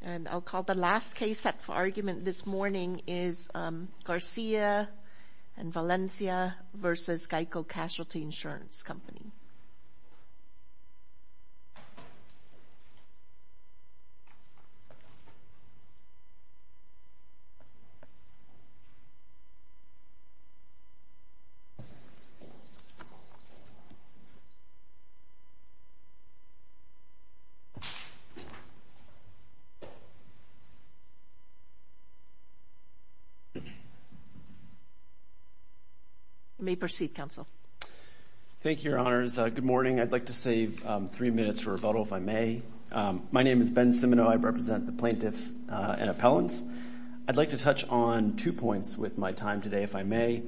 And I'll call the last case up for argument this morning is Garcia and Valencia v. GEICO Casualty Insurance Company. You may proceed, Counsel. Thank you, Your Honors. Good morning. I'd like to save three minutes for rebuttal, if I may. My name is Ben Simino. I represent the plaintiffs and appellants. I'd like to touch on two points with my time today, if I may.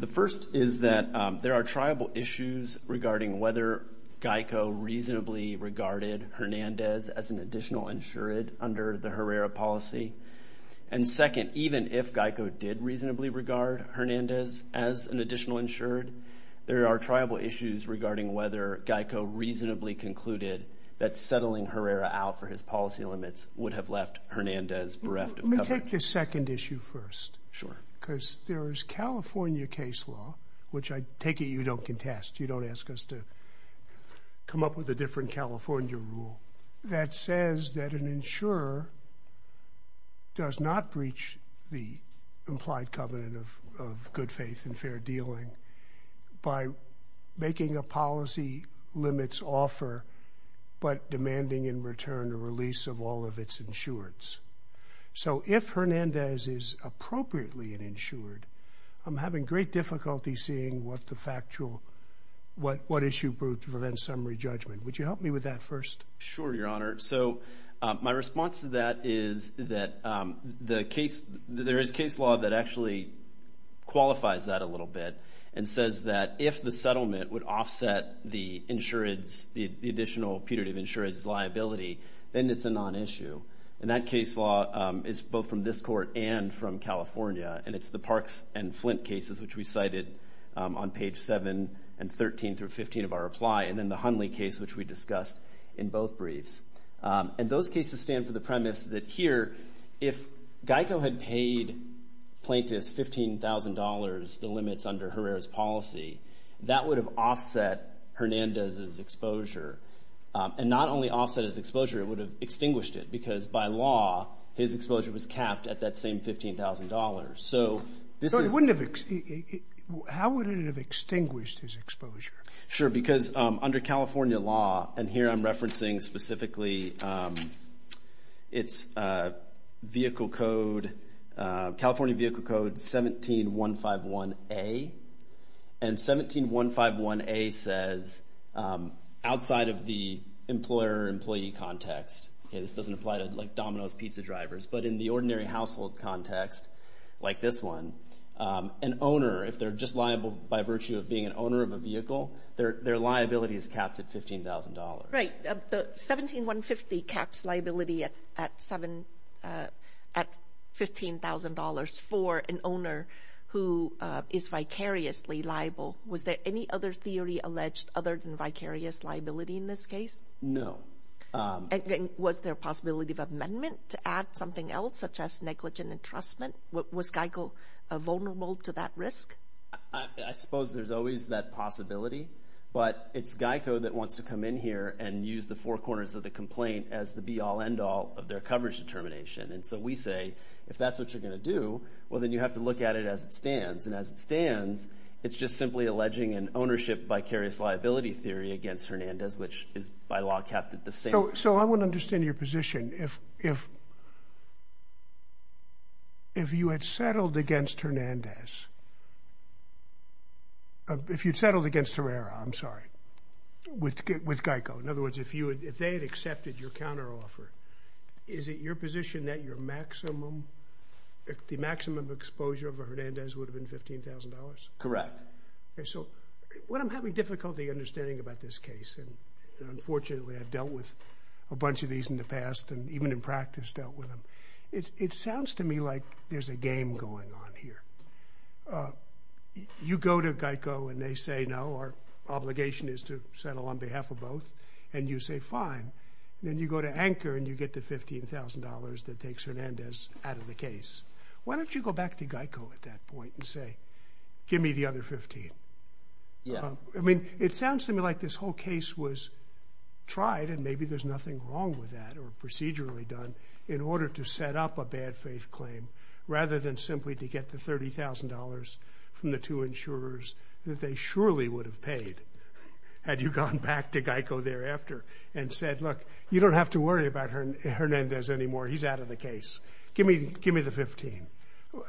The first is that there are tribal issues regarding whether GEICO reasonably regarded Hernandez as an additional insured under the Herrera policy. And second, even if GEICO did reasonably regard Hernandez as an additional insured, there are tribal issues regarding whether GEICO reasonably concluded that settling Herrera out for his policy limits would have left Hernandez bereft of coverage. Let me take this second issue first. Sure. Because there is California case law, which I take it you don't contest. You don't ask us to come up with a different California rule, that says that an insurer does not breach the implied covenant of good faith and fair dealing by making a policy limits offer but demanding in return a release of all of its insureds. So if Hernandez is appropriately an insured, I'm having great difficulty seeing what issue proved to prevent summary judgment. Would you help me with that first? Sure, Your Honor. So my response to that is that there is case law that actually qualifies that a little bit and says that if the settlement would offset the additional putative insured's liability, then it's a non-issue. And that case law is both from this court and from California, and it's the Parks and Flint cases, which we cited on page 7 and 13 through 15 of our reply, and then the Hunley case, which we discussed in both briefs. And those cases stand for the premise that here, if Geico had paid plaintiffs $15,000, the limits under Herrera's policy, that would have offset Hernandez's exposure. And not only offset his exposure, it would have extinguished it, because by law his exposure was capped at that same $15,000. So how would it have extinguished his exposure? Sure, because under California law, and here I'm referencing specifically its vehicle code, California vehicle code 17151A, and 17151A says outside of the employer-employee context, okay, this doesn't apply to, like, Domino's pizza drivers, but in the ordinary household context like this one, an owner, if they're just liable by virtue of being an owner of a vehicle, their liability is capped at $15,000. Right. 17150 caps liability at $15,000 for an owner who is vicariously liable. Was there any other theory alleged other than vicarious liability in this case? No. And was there a possibility of amendment to add something else, such as negligent entrustment? Was GEICO vulnerable to that risk? I suppose there's always that possibility, but it's GEICO that wants to come in here and use the four corners of the complaint as the be-all, end-all of their coverage determination. And so we say, if that's what you're going to do, well, then you have to look at it as it stands. And as it stands, it's just simply alleging an ownership vicarious liability theory against Hernandez, which is by law capped at the same. So I want to understand your position. If you had settled against Hernandez, if you'd settled against Herrera, I'm sorry, with GEICO, in other words, if they had accepted your counteroffer, is it your position that the maximum exposure of Hernandez would have been $15,000? Correct. So what I'm having difficulty understanding about this case, and unfortunately I've dealt with a bunch of these in the past, and even in practice dealt with them, it sounds to me like there's a game going on here. You go to GEICO and they say, no, our obligation is to settle on behalf of both, and you say, fine. Then you go to Anchor and you get the $15,000 that takes Hernandez out of the case. Why don't you go back to GEICO at that point and say, give me the other $15,000? Yeah. I mean, it sounds to me like this whole case was tried, and maybe there's nothing wrong with that or procedurally done in order to set up a bad faith claim rather than simply to get the $30,000 from the two insurers that they surely would have paid had you gone back to GEICO thereafter and said, look, you don't have to worry about Hernandez anymore. He's out of the case. Give me the $15,000.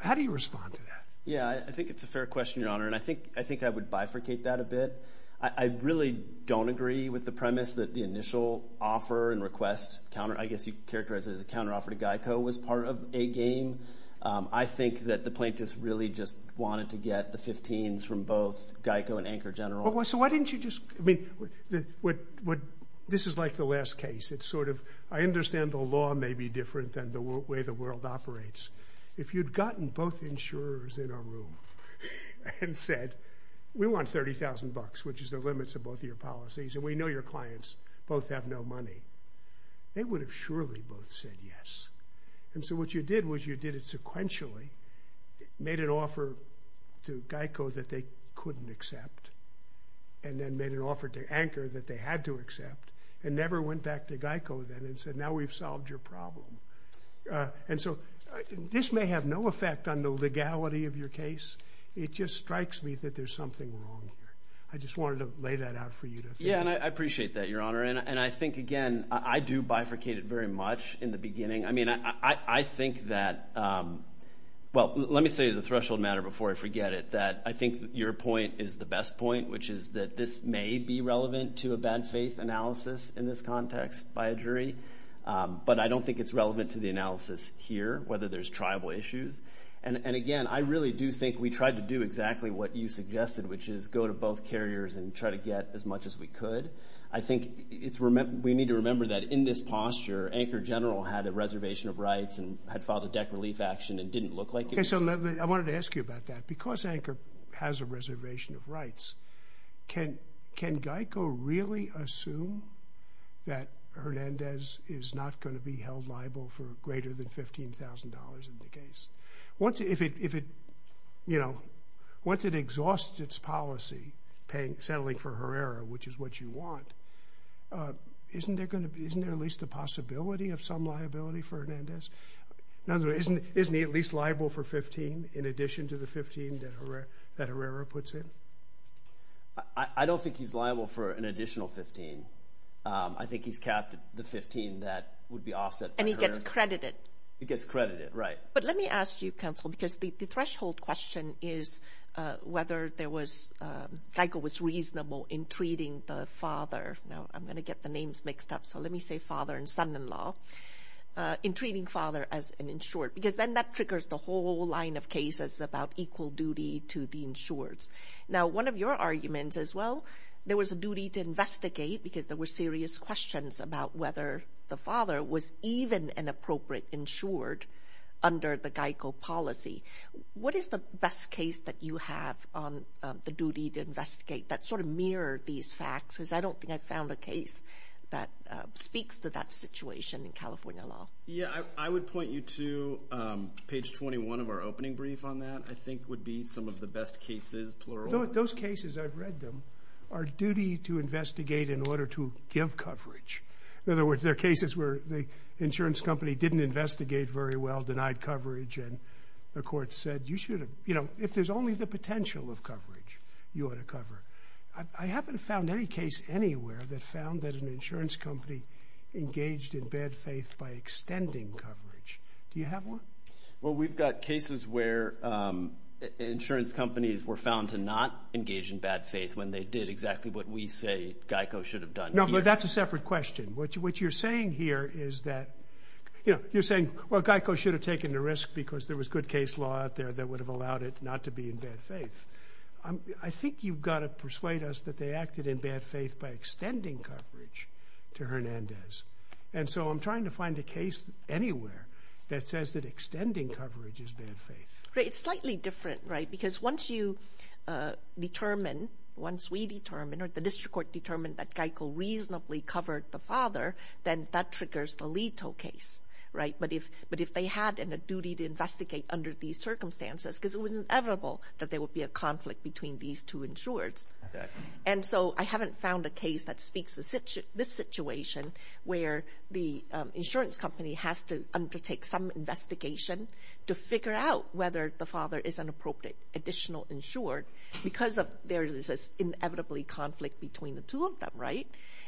How do you respond to that? Yeah, I think it's a fair question, Your Honor, and I think I would bifurcate that a bit. I really don't agree with the premise that the initial offer and request, I guess you'd characterize it as a counteroffer to GEICO, was part of a game. I think that the plaintiffs really just wanted to get the $15,000 from both GEICO and Anchor General. So why didn't you just, I mean, this is like the last case. It's sort of, I understand the law may be different than the way the world operates. If you'd gotten both insurers in a room and said, we want $30,000, which is the limits of both your policies, and we know your clients both have no money, they would have surely both said yes. And so what you did was you did it sequentially, made an offer to GEICO that they couldn't accept and then made an offer to Anchor that they had to accept and never went back to GEICO then and said, now we've solved your problem. And so this may have no effect on the legality of your case. It just strikes me that there's something wrong here. I just wanted to lay that out for you. Yeah, and I appreciate that, Your Honor, and I think, again, I do bifurcate it very much in the beginning. I mean, I think that, well, let me say the threshold matter before I forget it, that I think your point is the best point, which is that this may be relevant to a bad faith analysis in this context by a jury, but I don't think it's relevant to the analysis here, whether there's tribal issues. And, again, I really do think we tried to do exactly what you suggested, which is go to both carriers and try to get as much as we could. I think we need to remember that in this posture, Anchor General had a reservation of rights and had filed a deck relief action and didn't look like it. Okay, so I wanted to ask you about that. Because Anchor has a reservation of rights, can GEICO really assume that Hernandez is not going to be held liable for greater than $15,000 in the case? Once it exhausts its policy, settling for Herrera, which is what you want, isn't there at least a possibility of some liability for Hernandez? Isn't he at least liable for $15,000 in addition to the $15,000 that Herrera puts in? I don't think he's liable for an additional $15,000. I think he's capped the $15,000 that would be offset by Herrera. And he gets credited. He gets credited, right. But let me ask you, Counsel, because the threshold question is whether there was – GEICO was reasonable in treating the father – now, I'm going to get the names mixed up, so let me say father and son-in-law – in treating father as an insured. Because then that triggers the whole line of cases about equal duty to the insureds. Now, one of your arguments is, well, there was a duty to investigate because there were serious questions about whether the father was even an appropriate insured under the GEICO policy. What is the best case that you have on the duty to investigate that sort of mirrored these facts? Because I don't think I've found a case that speaks to that situation in California law. Yeah, I would point you to page 21 of our opening brief on that. I think would be some of the best cases, plural. Those cases, I've read them, are duty to investigate in order to give coverage. In other words, there are cases where the insurance company didn't investigate very well, denied coverage, and the court said you should have – you know, if there's only the potential of coverage, you ought to cover it. I haven't found any case anywhere that found that an insurance company engaged in bad faith by extending coverage. Do you have one? Well, we've got cases where insurance companies were found to not engage in bad faith when they did exactly what we say GEICO should have done here. No, but that's a separate question. What you're saying here is that – you know, you're saying, well, GEICO should have taken the risk because there was good case law out there that would have allowed it not to be in bad faith. I think you've got to persuade us that they acted in bad faith by extending coverage to Hernandez. And so I'm trying to find a case anywhere that says that extending coverage is bad faith. It's slightly different, right, because once you determine, once we determine, or the district court determined that GEICO reasonably covered the father, then that triggers the Leto case, right? But if they had a duty to investigate under these circumstances, because it was inevitable that there would be a conflict between these two insureds. And so I haven't found a case that speaks to this situation where the insurance company has to undertake some investigation to figure out whether the father is an appropriate additional insured because there is this inevitably conflict between the two of them, right?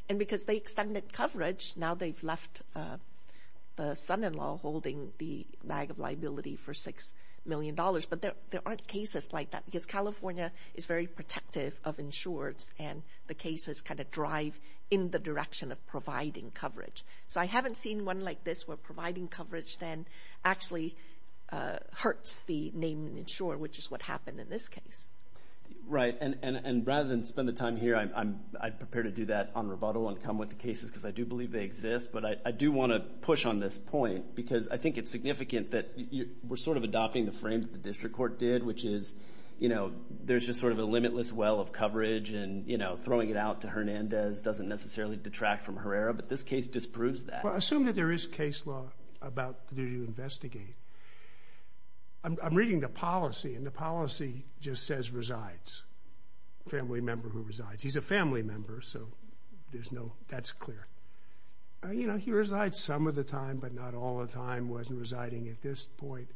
And because they extended coverage, now they've left the son-in-law holding the bag of liability for $6 million. But there aren't cases like that because California is very protective of insureds and the cases kind of drive in the direction of providing coverage. So I haven't seen one like this where providing coverage then actually hurts the name insured, which is what happened in this case. Right, and rather than spend the time here, I'd prepare to do that on rebuttal and come with the cases because I do believe they exist. But I do want to push on this point because I think it's significant that we're sort of adopting the frame that the district court did, which is there's just sort of a limitless well of coverage and throwing it out to Hernandez doesn't necessarily detract from Herrera, but this case disproves that. Well, assume that there is case law about the duty to investigate. I'm reading the policy, and the policy just says resides, family member who resides. He's a family member, so that's clear. You know, he resides some of the time, but not all the time, wasn't residing at this point.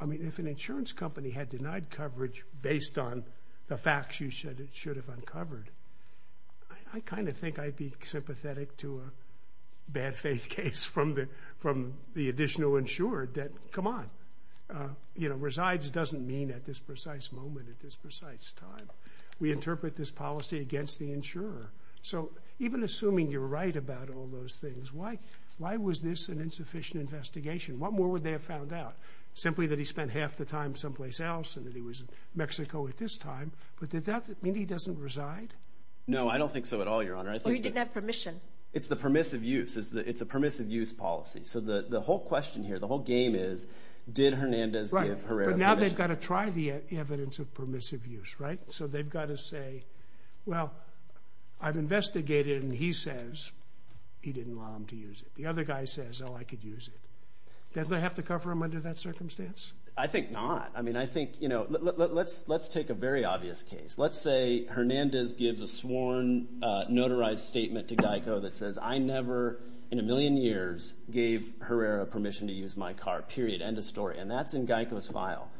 I mean, if an insurance company had denied coverage based on the facts you said it should have uncovered, I kind of think I'd be sympathetic to a bad faith case from the additional insured that, come on, you know, resides doesn't mean at this precise moment, at this precise time. We interpret this policy against the insurer. So even assuming you're right about all those things, why was this an insufficient investigation? What more would they have found out? Simply that he spent half the time someplace else and that he was in Mexico at this time. But does that mean he doesn't reside? No, I don't think so at all, Your Honor. Well, he didn't have permission. It's the permissive use. It's a permissive use policy. So the whole question here, the whole game is did Hernandez give Herrera permission? Right, but now they've got to try the evidence of permissive use, right? So they've got to say, well, I've investigated, and he says he didn't want him to use it. The other guy says, oh, I could use it. Did they have to cover him under that circumstance? I think not. I mean, I think, you know, let's take a very obvious case. Let's say Hernandez gives a sworn notarized statement to Geico that says, I never in a million years gave Herrera permission to use my car, period, end of story. And that's in Geico's file.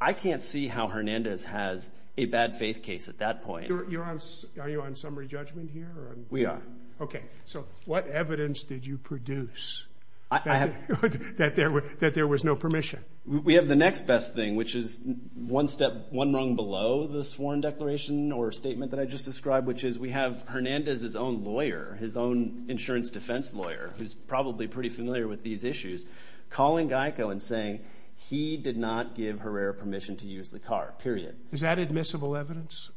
I can't see how Hernandez has a bad faith case at that point. Are you on summary judgment here? We are. Okay. So what evidence did you produce that there was no permission? We have the next best thing, which is one step, one rung below the sworn declaration or statement that I just described, which is we have Hernandez's own lawyer, his own insurance defense lawyer, who's probably pretty familiar with these issues, calling Geico and saying he did not give Herrera permission to use the car, period. Is that admissible evidence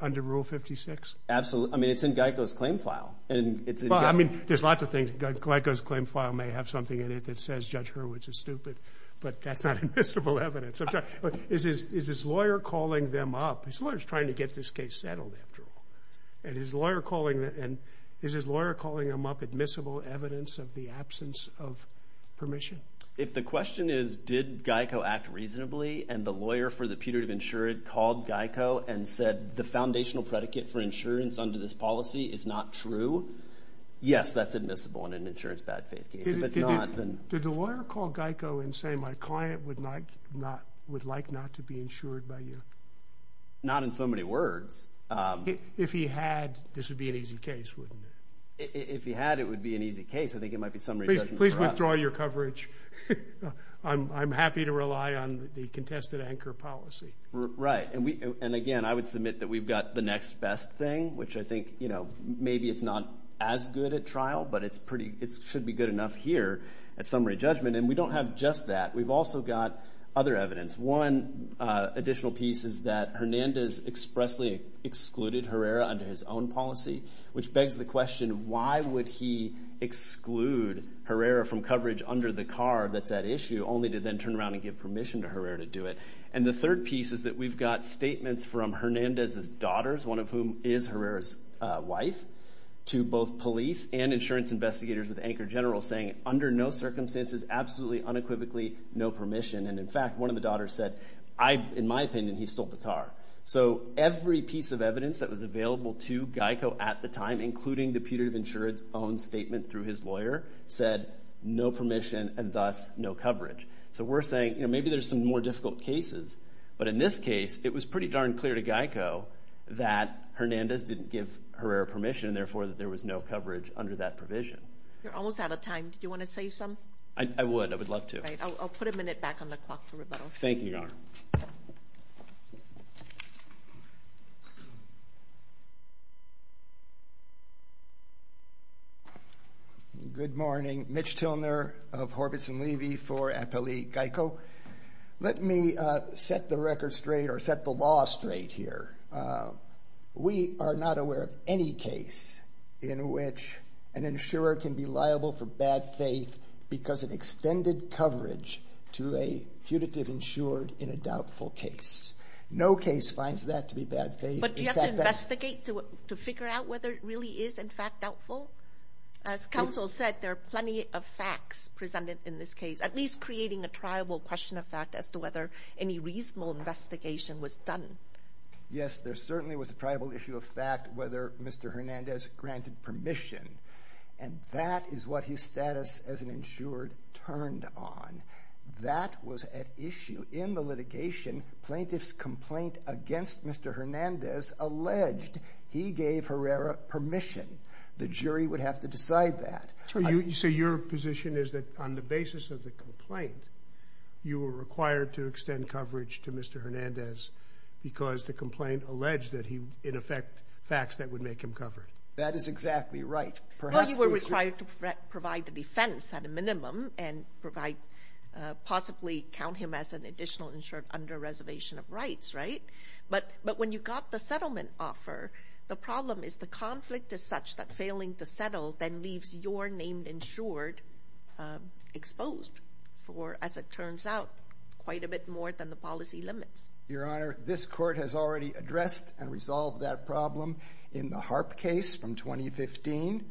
under Rule 56? Absolutely. I mean, it's in Geico's claim file. Well, I mean, there's lots of things. Geico's claim file may have something in it that says Judge Hurwitz is stupid, but that's not admissible evidence. Is his lawyer calling them up? His lawyer's trying to get this case settled, after all. And is his lawyer calling them up admissible evidence of the absence of permission? If the question is did Geico act reasonably and the lawyer for the putative insured called Geico and said the foundational predicate for insurance under this policy is not true, yes, that's admissible in an insurance bad faith case. If it's not, then... Did the lawyer call Geico and say my client would like not to be insured by you? Not in so many words. If he had, this would be an easy case, wouldn't it? If he had, it would be an easy case. I think it might be summary judgment for us. Please withdraw your coverage. I'm happy to rely on the contested anchor policy. Right. And, again, I would submit that we've got the next best thing, which I think maybe it's not as good at trial, but it should be good enough here at summary judgment. And we don't have just that. We've also got other evidence. One additional piece is that Hernandez expressly excluded Herrera under his own policy, which begs the question why would he exclude Herrera from coverage under the car that's at issue, only to then turn around and give permission to Herrera to do it. And the third piece is that we've got statements from Hernandez's daughters, one of whom is Herrera's wife, to both police and insurance investigators with the anchor general saying under no circumstances, absolutely unequivocally, no permission. And, in fact, one of the daughters said, in my opinion, he stole the car. So every piece of evidence that was available to Geico at the time, including the putative insurance own statement through his lawyer, said no permission and thus no coverage. So we're saying maybe there's some more difficult cases. But in this case, it was pretty darn clear to Geico that Hernandez didn't give Herrera permission, and, therefore, that there was no coverage under that provision. You're almost out of time. Do you want to save some? I would. I would love to. All right. I'll put a minute back on the clock for rebuttal. Thank you, Your Honor. Good morning. Mitch Tilner of Horvitz & Levy for Appellee Geico. Let me set the record straight or set the law straight here. We are not aware of any case in which an insurer can be liable for bad faith because it extended coverage to a putative insured in a doubtful case. No case finds that to be bad faith. But do you have to investigate to figure out whether it really is, in fact, doubtful? As counsel said, there are plenty of facts presented in this case, at least creating a triable question of fact as to whether any reasonable investigation was done. Yes, there certainly was a triable issue of fact whether Mr. Hernandez granted permission, and that is what his status as an insured turned on. That was at issue in the litigation. Plaintiff's complaint against Mr. Hernandez alleged he gave Herrera permission. The jury would have to decide that. So your position is that on the basis of the complaint, you were required to extend coverage to Mr. Hernandez because the complaint alleged that he, in effect, facts that would make him covered. That is exactly right. Well, you were required to provide the defense at a minimum and possibly count him as an additional insured under reservation of rights, right? But when you got the settlement offer, the problem is the conflict is such that failing to settle then leaves your named insured exposed for, as it turns out, quite a bit more than the policy limits. Your Honor, this Court has already addressed and resolved that problem. In the Harp case from 2015,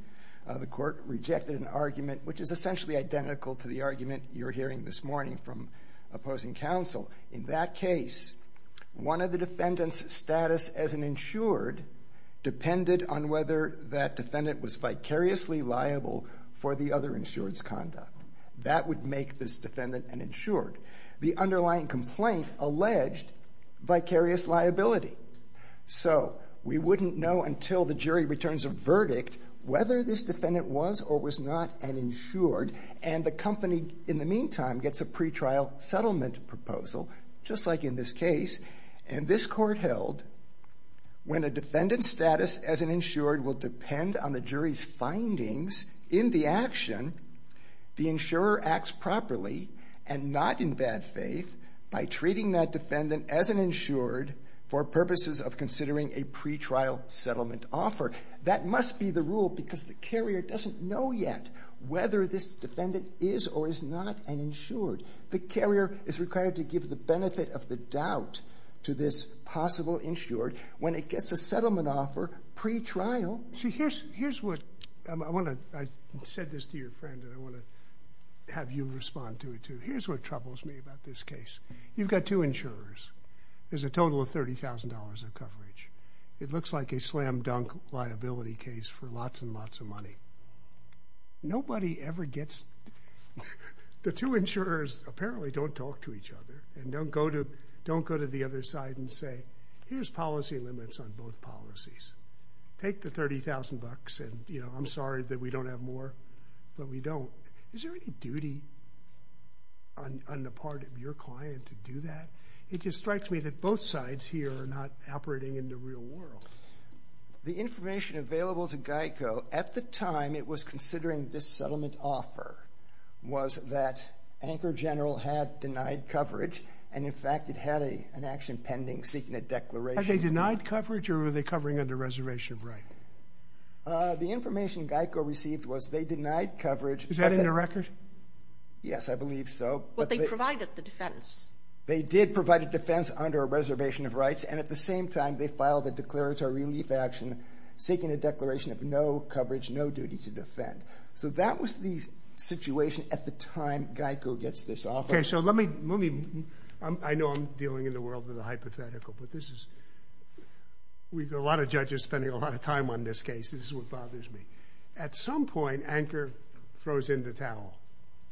the Court rejected an argument which is essentially identical to the argument you're hearing this morning from opposing counsel. In that case, one of the defendant's status as an insured depended on whether that defendant was vicariously liable for the other insured's conduct. That would make this defendant an insured. The underlying complaint alleged vicarious liability. So we wouldn't know until the jury returns a verdict whether this defendant was or was not an insured, and the company, in the meantime, gets a pretrial settlement proposal, just like in this case. And this Court held when a defendant's status as an insured will depend on the jury's findings in the action, the insurer acts properly and not in bad faith by treating that defendant as an insured for purposes of considering a pretrial settlement offer. That must be the rule because the carrier doesn't know yet whether this defendant is or is not an insured. The carrier is required to give the benefit of the doubt to this possible insured when it gets a settlement offer pretrial. I said this to your friend, and I want to have you respond to it, too. Here's what troubles me about this case. You've got two insurers. There's a total of $30,000 of coverage. It looks like a slam-dunk liability case for lots and lots of money. The two insurers apparently don't talk to each other and don't go to the other side and say, here's policy limits on both policies. Take the $30,000 and, you know, I'm sorry that we don't have more, but we don't. Is there any duty on the part of your client to do that? It just strikes me that both sides here are not operating in the real world. The information available to GEICO at the time it was considering this settlement offer was that Anchor General had denied coverage, and, in fact, it had an action pending seeking a declaration. Had they denied coverage, or were they covering under a reservation of rights? The information GEICO received was they denied coverage. Is that in the record? Yes, I believe so. But they provided the defense. They did provide a defense under a reservation of rights, and at the same time they filed a declaratory relief action seeking a declaration of no coverage, no duty to defend. So that was the situation at the time GEICO gets this offer. Okay, so let me, I know I'm dealing in the world of the hypothetical, but this is, we've got a lot of judges spending a lot of time on this case. This is what bothers me. At some point, Anchor throws in the towel,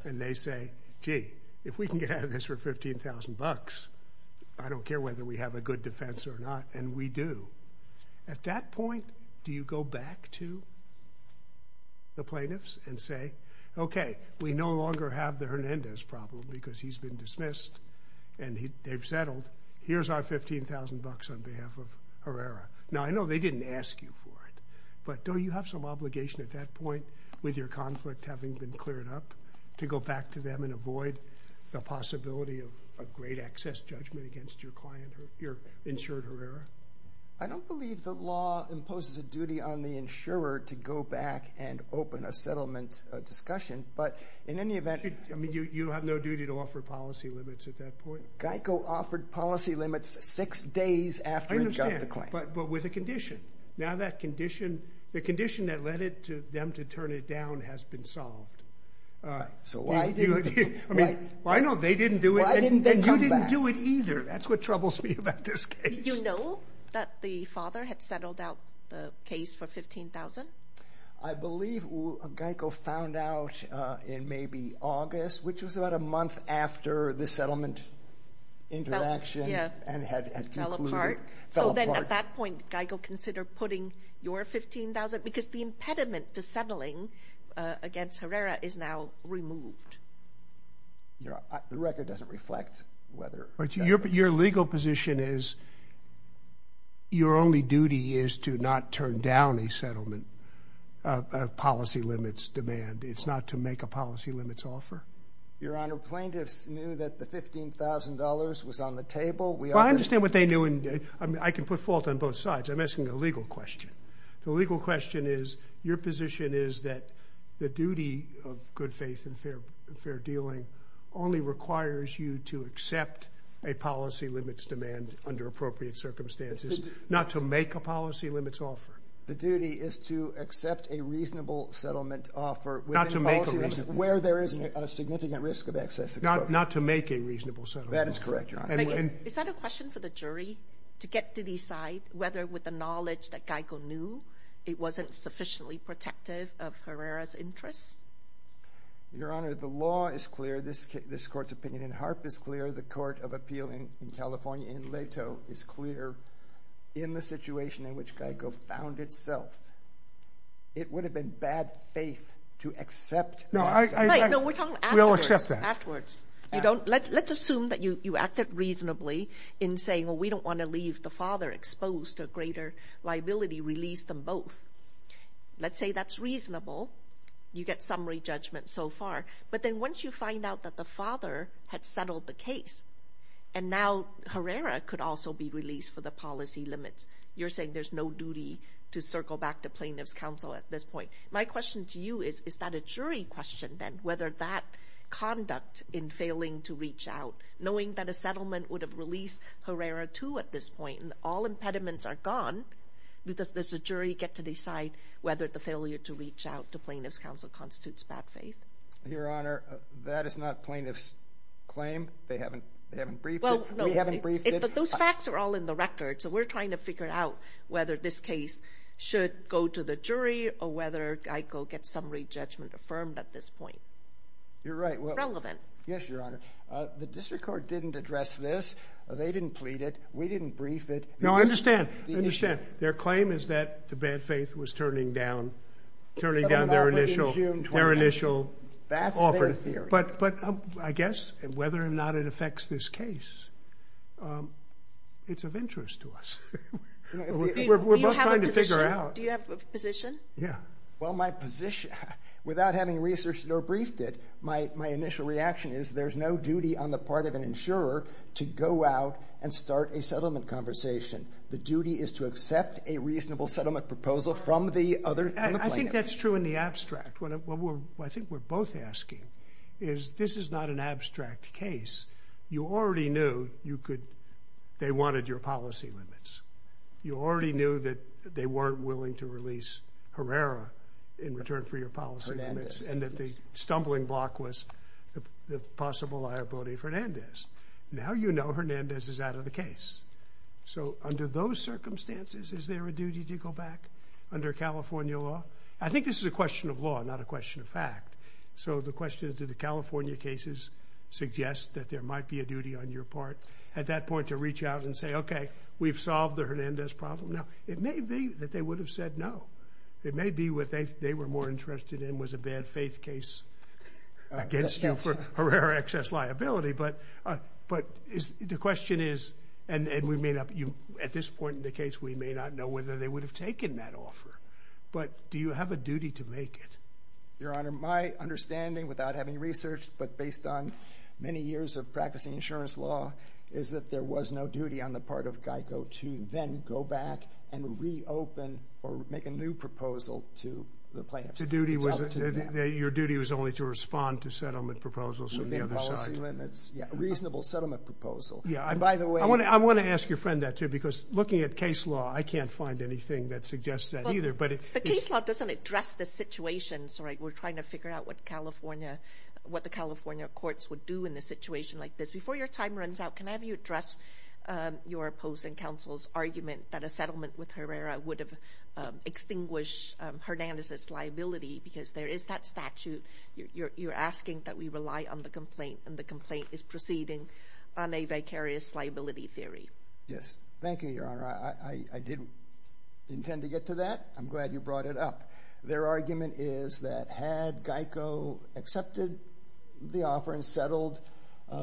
and they say, gee, if we can get out of this for $15,000, I don't care whether we have a good defense or not, and we do. At that point, do you go back to the plaintiffs and say, okay, we no longer have the Hernandez problem because he's been dismissed and they've settled. Here's our $15,000 on behalf of Herrera. Now, I know they didn't ask you for it, but don't you have some obligation at that point with your conflict having been cleared up to go back to them and avoid the possibility of a great excess judgment against your client, your insured Herrera? I don't believe the law imposes a duty on the insurer to go back and open a settlement discussion, but in any event. I mean, you have no duty to offer policy limits at that point. GEICO offered policy limits six days after a job decline. I understand, but with a condition. Now that condition, the condition that led them to turn it down has been solved. So why didn't they come back? Well, I know they didn't do it, and you didn't do it either. That's what troubles me about this case. Did you know that the father had settled out the case for $15,000? I believe GEICO found out in maybe August, which was about a month after the settlement interaction and had concluded. Fell apart. So then at that point, GEICO considered putting your $15,000 because the impediment to settling against Herrera is now removed. The record doesn't reflect whether. Your legal position is your only duty is to not turn down a settlement policy limits demand. It's not to make a policy limits offer. Your Honor, plaintiffs knew that the $15,000 was on the table. Well, I understand what they knew, and I can put fault on both sides. I'm asking a legal question. The legal question is your position is that the duty of good faith and fair dealing only requires you to accept a policy limits demand under appropriate circumstances, not to make a policy limits offer. The duty is to accept a reasonable settlement offer. Not to make a reasonable. Where there is a significant risk of excess exposure. Not to make a reasonable settlement offer. That is correct, Your Honor. Is that a question for the jury to get to decide whether with the knowledge that GEICO knew it wasn't sufficiently protective of Herrera's interests? Your Honor, the law is clear. This Court's opinion in HARP is clear. The Court of Appeal in California in LATO is clear. In the situation in which GEICO found itself, it would have been bad faith to accept. No, we're talking afterwards. Let's assume that you acted reasonably in saying, well, we don't want to leave the father exposed to a greater liability, release them both. Let's say that's reasonable. You get summary judgment so far. But then once you find out that the father had settled the case, and now Herrera could also be released for the policy limits, you're saying there's no duty to circle back to plaintiff's counsel at this point. My question to you is, is that a jury question then? Whether that conduct in failing to reach out, knowing that a settlement would have released Herrera too at this point, and all impediments are gone, does the jury get to decide whether the failure to reach out to plaintiff's counsel constitutes bad faith? Your Honor, that is not plaintiff's claim. They haven't briefed it. We haven't briefed it. Those facts are all in the record. So we're trying to figure out whether this case should go to the jury or whether GEICO gets summary judgment affirmed at this point. You're right. Relevant. Yes, Your Honor. The district court didn't address this. They didn't plead it. We didn't brief it. No, I understand. Their claim is that the bad faith was turning down their initial offer. That's their theory. But I guess whether or not it affects this case, it's of interest to us. We're both trying to figure out. Do you have a position? Yeah. Well, my position, without having researched it or briefed it, my initial reaction is there's no duty on the part of an insurer to go out and start a settlement conversation. The duty is to accept a reasonable settlement proposal from the plaintiff. I think that's true in the abstract. What I think we're both asking is this is not an abstract case. You already knew they wanted your policy limits. You already knew that they weren't willing to release Herrera in return for your policy limits and that the stumbling block was the possible liability of Hernandez. Now you know Hernandez is out of the case. So under those circumstances, is there a duty to go back under California law? I think this is a question of law, not a question of fact. So the question is did the California cases suggest that there might be a duty on your part at that point to reach out and say, okay, we've solved the Hernandez problem. Now, it may be that they would have said no. It may be what they were more interested in was a bad faith case against you for Herrera excess liability. But the question is, and at this point in the case, we may not know whether they would have taken that offer. But do you have a duty to make it? Your Honor, my understanding without having researched but based on many years of practicing insurance law is that there was no duty on the part of GEICO to then go back and reopen or make a new proposal to the plaintiffs. Your duty was only to respond to settlement proposals on the other side. Within policy limits. Yeah, a reasonable settlement proposal. I want to ask your friend that too because looking at case law, I can't find anything that suggests that either. But case law doesn't address the situation. We're trying to figure out what the California courts would do in a situation like this. Before your time runs out, can I have you address your opposing counsel's argument that a settlement with Herrera would have extinguished Hernandez's liability because there is that statute. You're asking that we rely on the complaint, and the complaint is proceeding on a vicarious liability theory. Yes. Thank you, Your Honor. I didn't intend to get to that. I'm glad you brought it up. Their argument is that had GEICO accepted the offer and settled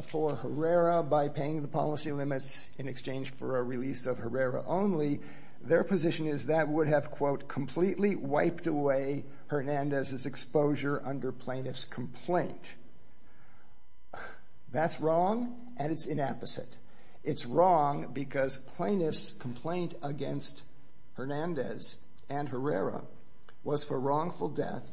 for Herrera by paying the policy limits in exchange for a release of Herrera only, their position is that would have, quote, completely wiped away Hernandez's exposure under plaintiff's complaint. That's wrong, and it's inapposite. It's wrong because plaintiff's complaint against Hernandez and Herrera was for wrongful death.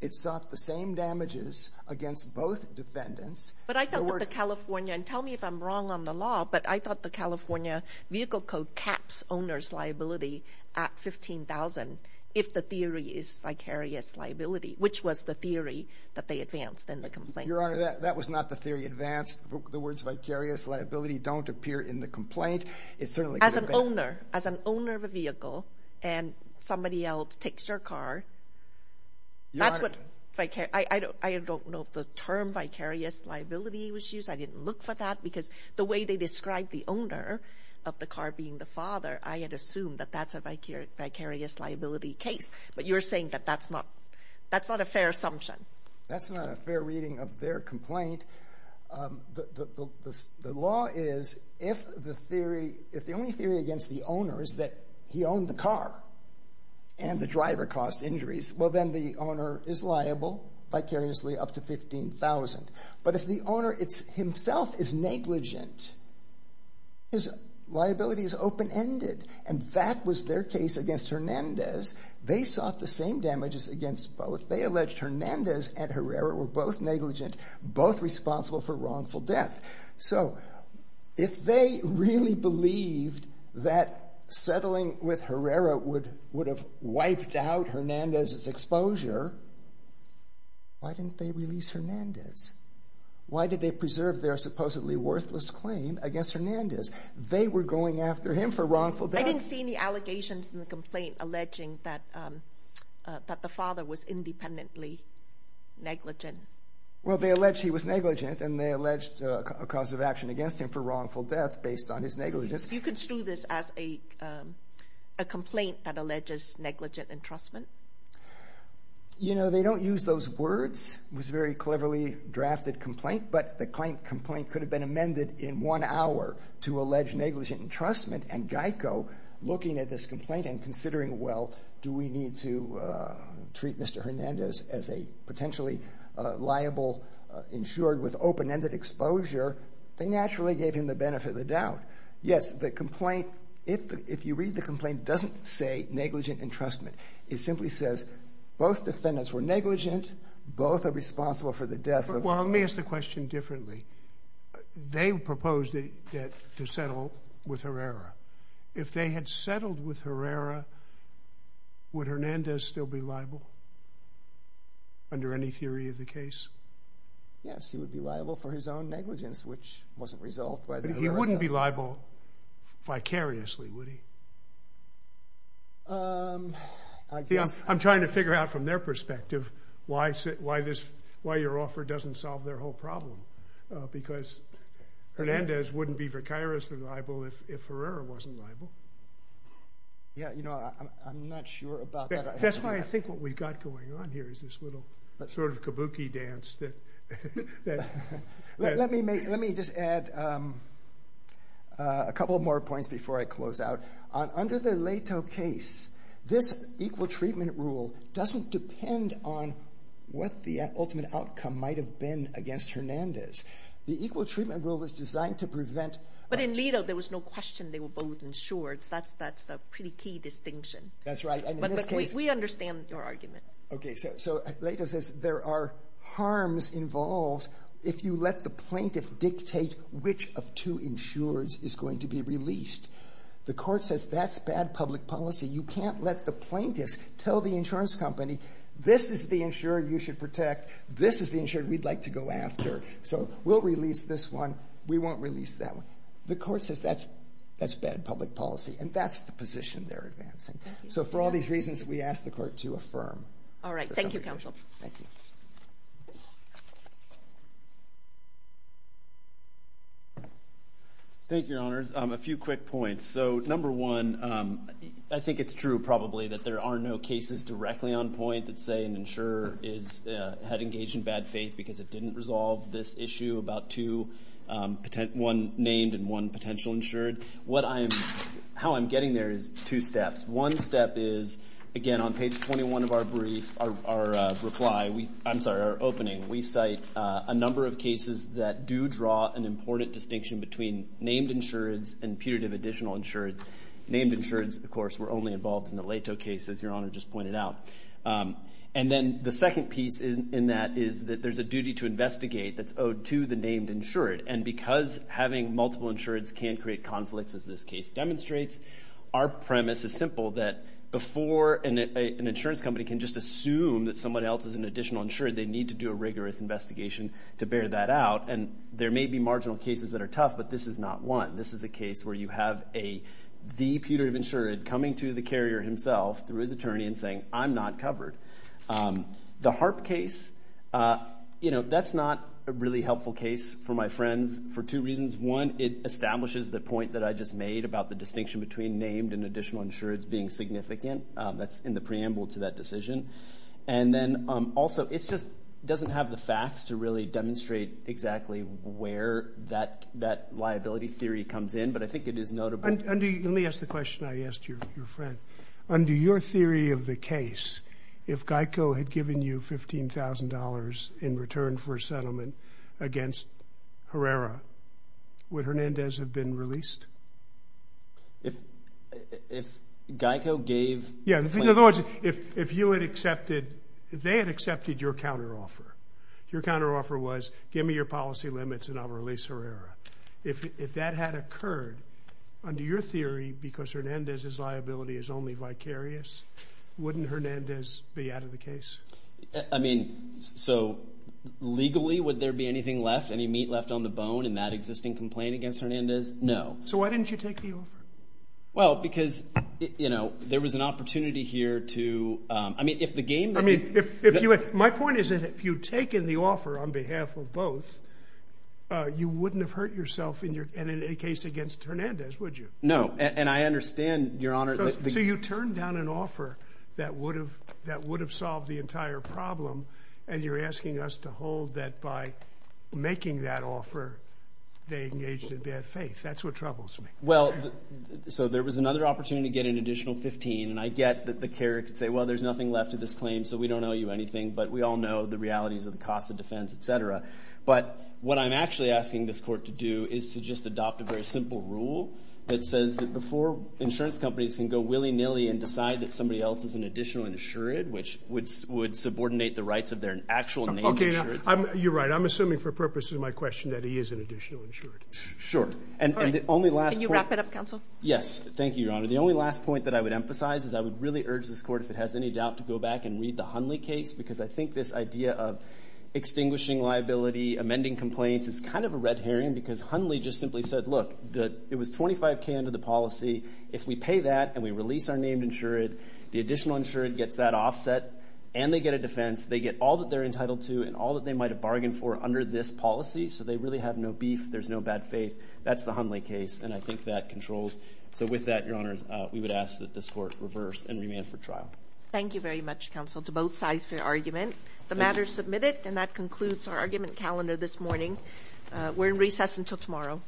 It sought the same damages against both defendants. But I thought that the California, and tell me if I'm wrong on the law, but I thought the California vehicle code caps owner's liability at $15,000 if the theory is vicarious liability, which was the theory that they advanced in the complaint. Your Honor, that was not the theory advanced. The words vicarious liability don't appear in the complaint. As an owner, as an owner of a vehicle, and somebody else takes your car, that's what vicarious, I don't know if the term vicarious liability was used. I didn't look for that because the way they described the owner of the car being the father, I had assumed that that's a vicarious liability case. But you're saying that that's not a fair assumption. That's not a fair reading of their complaint. The law is if the theory, if the only theory against the owner is that he owned the car and the driver caused injuries, well then the owner is liable vicariously up to $15,000. But if the owner himself is negligent, his liability is open-ended. And that was their case against Hernandez. They sought the same damages against both. They alleged Hernandez and Herrera were both negligent, both responsible for wrongful death. So if they really believed that settling with Herrera would have wiped out Hernandez's exposure, why didn't they release Hernandez? Why did they preserve their supposedly worthless claim against Hernandez? They were going after him for wrongful death. I didn't see any allegations in the complaint alleging that the father was independently negligent. Well, they alleged he was negligent and they alleged a cause of action against him for wrongful death based on his negligence. You construe this as a complaint that alleges negligent entrustment? You know, they don't use those words. It was a very cleverly drafted complaint, but the complaint could have been amended in one hour to allege negligent entrustment. And GEICO, looking at this complaint and considering, well, do we need to treat Mr. Hernandez as a potentially liable insured with open-ended exposure, they naturally gave him the benefit of the doubt. Yes, the complaint, if you read the complaint, doesn't say negligent entrustment. It simply says both defendants were negligent, both are responsible for the death of... Well, let me ask the question differently. They proposed to settle with Herrera. If they had settled with Herrera, would Hernandez still be liable under any theory of the case? Yes, he would be liable for his own negligence, which wasn't resolved by the Herrera settlement. But he wouldn't be liable vicariously, would he? I guess... See, I'm trying to figure out from their perspective why your offer doesn't solve their whole problem, because Hernandez wouldn't be vicariously liable if Herrera wasn't liable. Yeah, you know, I'm not sure about that. That's why I think what we've got going on here is this little sort of kabuki dance that... Let me just add a couple more points before I close out. Under the Leto case, this equal treatment rule doesn't depend on what the ultimate outcome might have been against Hernandez. The equal treatment rule is designed to prevent... That's a pretty key distinction. That's right. But we understand your argument. Okay, so Leto says there are harms involved if you let the plaintiff dictate which of two insurers is going to be released. The court says that's bad public policy. You can't let the plaintiff tell the insurance company, this is the insurer you should protect, this is the insurer we'd like to go after, so we'll release this one, we won't release that one. The court says that's bad public policy, and that's the position they're advancing. So for all these reasons, we ask the court to affirm. All right, thank you, counsel. Thank you. Thank you, Your Honors. A few quick points. So number one, I think it's true probably that there are no cases directly on point that say an insurer had engaged in bad faith because it didn't resolve this issue about one named and one potential insured. How I'm getting there is two steps. One step is, again, on page 21 of our brief, our reply, I'm sorry, our opening, we cite a number of cases that do draw an important distinction between named insureds and putative additional insureds. Named insureds, of course, were only involved in the Leto case, as Your Honor just pointed out. And then the second piece in that is that there's a duty to investigate that's owed to the named insured. And because having multiple insureds can create conflicts, as this case demonstrates, our premise is simple, that before an insurance company can just assume that someone else is an additional insured, they need to do a rigorous investigation to bear that out. And there may be marginal cases that are tough, but this is not one. This is a case where you have the putative insured coming to the carrier himself through his attorney and saying, I'm not covered. The HARP case, you know, that's not a really helpful case for my friends for two reasons. One, it establishes the point that I just made about the distinction between named and additional insureds being significant. That's in the preamble to that decision. And then also, it just doesn't have the facts to really demonstrate exactly where that liability theory comes in, but I think it is notable. Let me ask the question I asked your friend. Under your theory of the case, if GEICO had given you $15,000 in return for a settlement against Herrera, would Hernandez have been released? If GEICO gave... Yeah, in other words, if you had accepted, if they had accepted your counteroffer, your counteroffer was, give me your policy limits and I'll release Herrera. If that had occurred, under your theory, because Hernandez's liability is only vicarious, wouldn't Hernandez be out of the case? I mean, so legally, would there be anything left, any meat left on the bone in that existing complaint against Hernandez? No. So why didn't you take the offer? Well, because, you know, there was an opportunity here to... I mean, if the game... I mean, my point is that if you'd taken the offer on behalf of both, you wouldn't have hurt yourself in any case against Hernandez, would you? No, and I understand, Your Honor... So you turned down an offer that would have solved the entire problem and you're asking us to hold that by making that offer, they engaged in bad faith. That's what troubles me. Well, so there was another opportunity to get an additional $15,000, and I get that the carrier could say, well, there's nothing left of this claim, so we don't owe you anything, but we all know the realities of the cost of defense, etc. But what I'm actually asking this court to do is to just adopt a very simple rule that says that before insurance companies can go willy-nilly and decide that somebody else is an additional insured, which would subordinate the rights of their actual name insured... Okay, now, you're right. I'm assuming for purposes of my question that he is an additional insured. Sure. All right. Can you wrap it up, counsel? Yes, thank you, Your Honor. The only last point that I would emphasize is I would really urge this court, if it has any doubt, to go back and read the Hunley case, because I think this idea of extinguishing liability, amending complaints, is kind of a red herring, because Hunley just simply said, Look, it was 25K under the policy. If we pay that and we release our named insured, the additional insured gets that offset, and they get a defense. They get all that they're entitled to and all that they might have bargained for under this policy, so they really have no beef. There's no bad faith. That's the Hunley case, and I think that controls. So with that, Your Honors, we would ask that this court reverse and remand for trial. Thank you very much, counsel, to both sides for your argument. The matter is submitted, and that concludes our argument calendar this morning. We're in recess until tomorrow.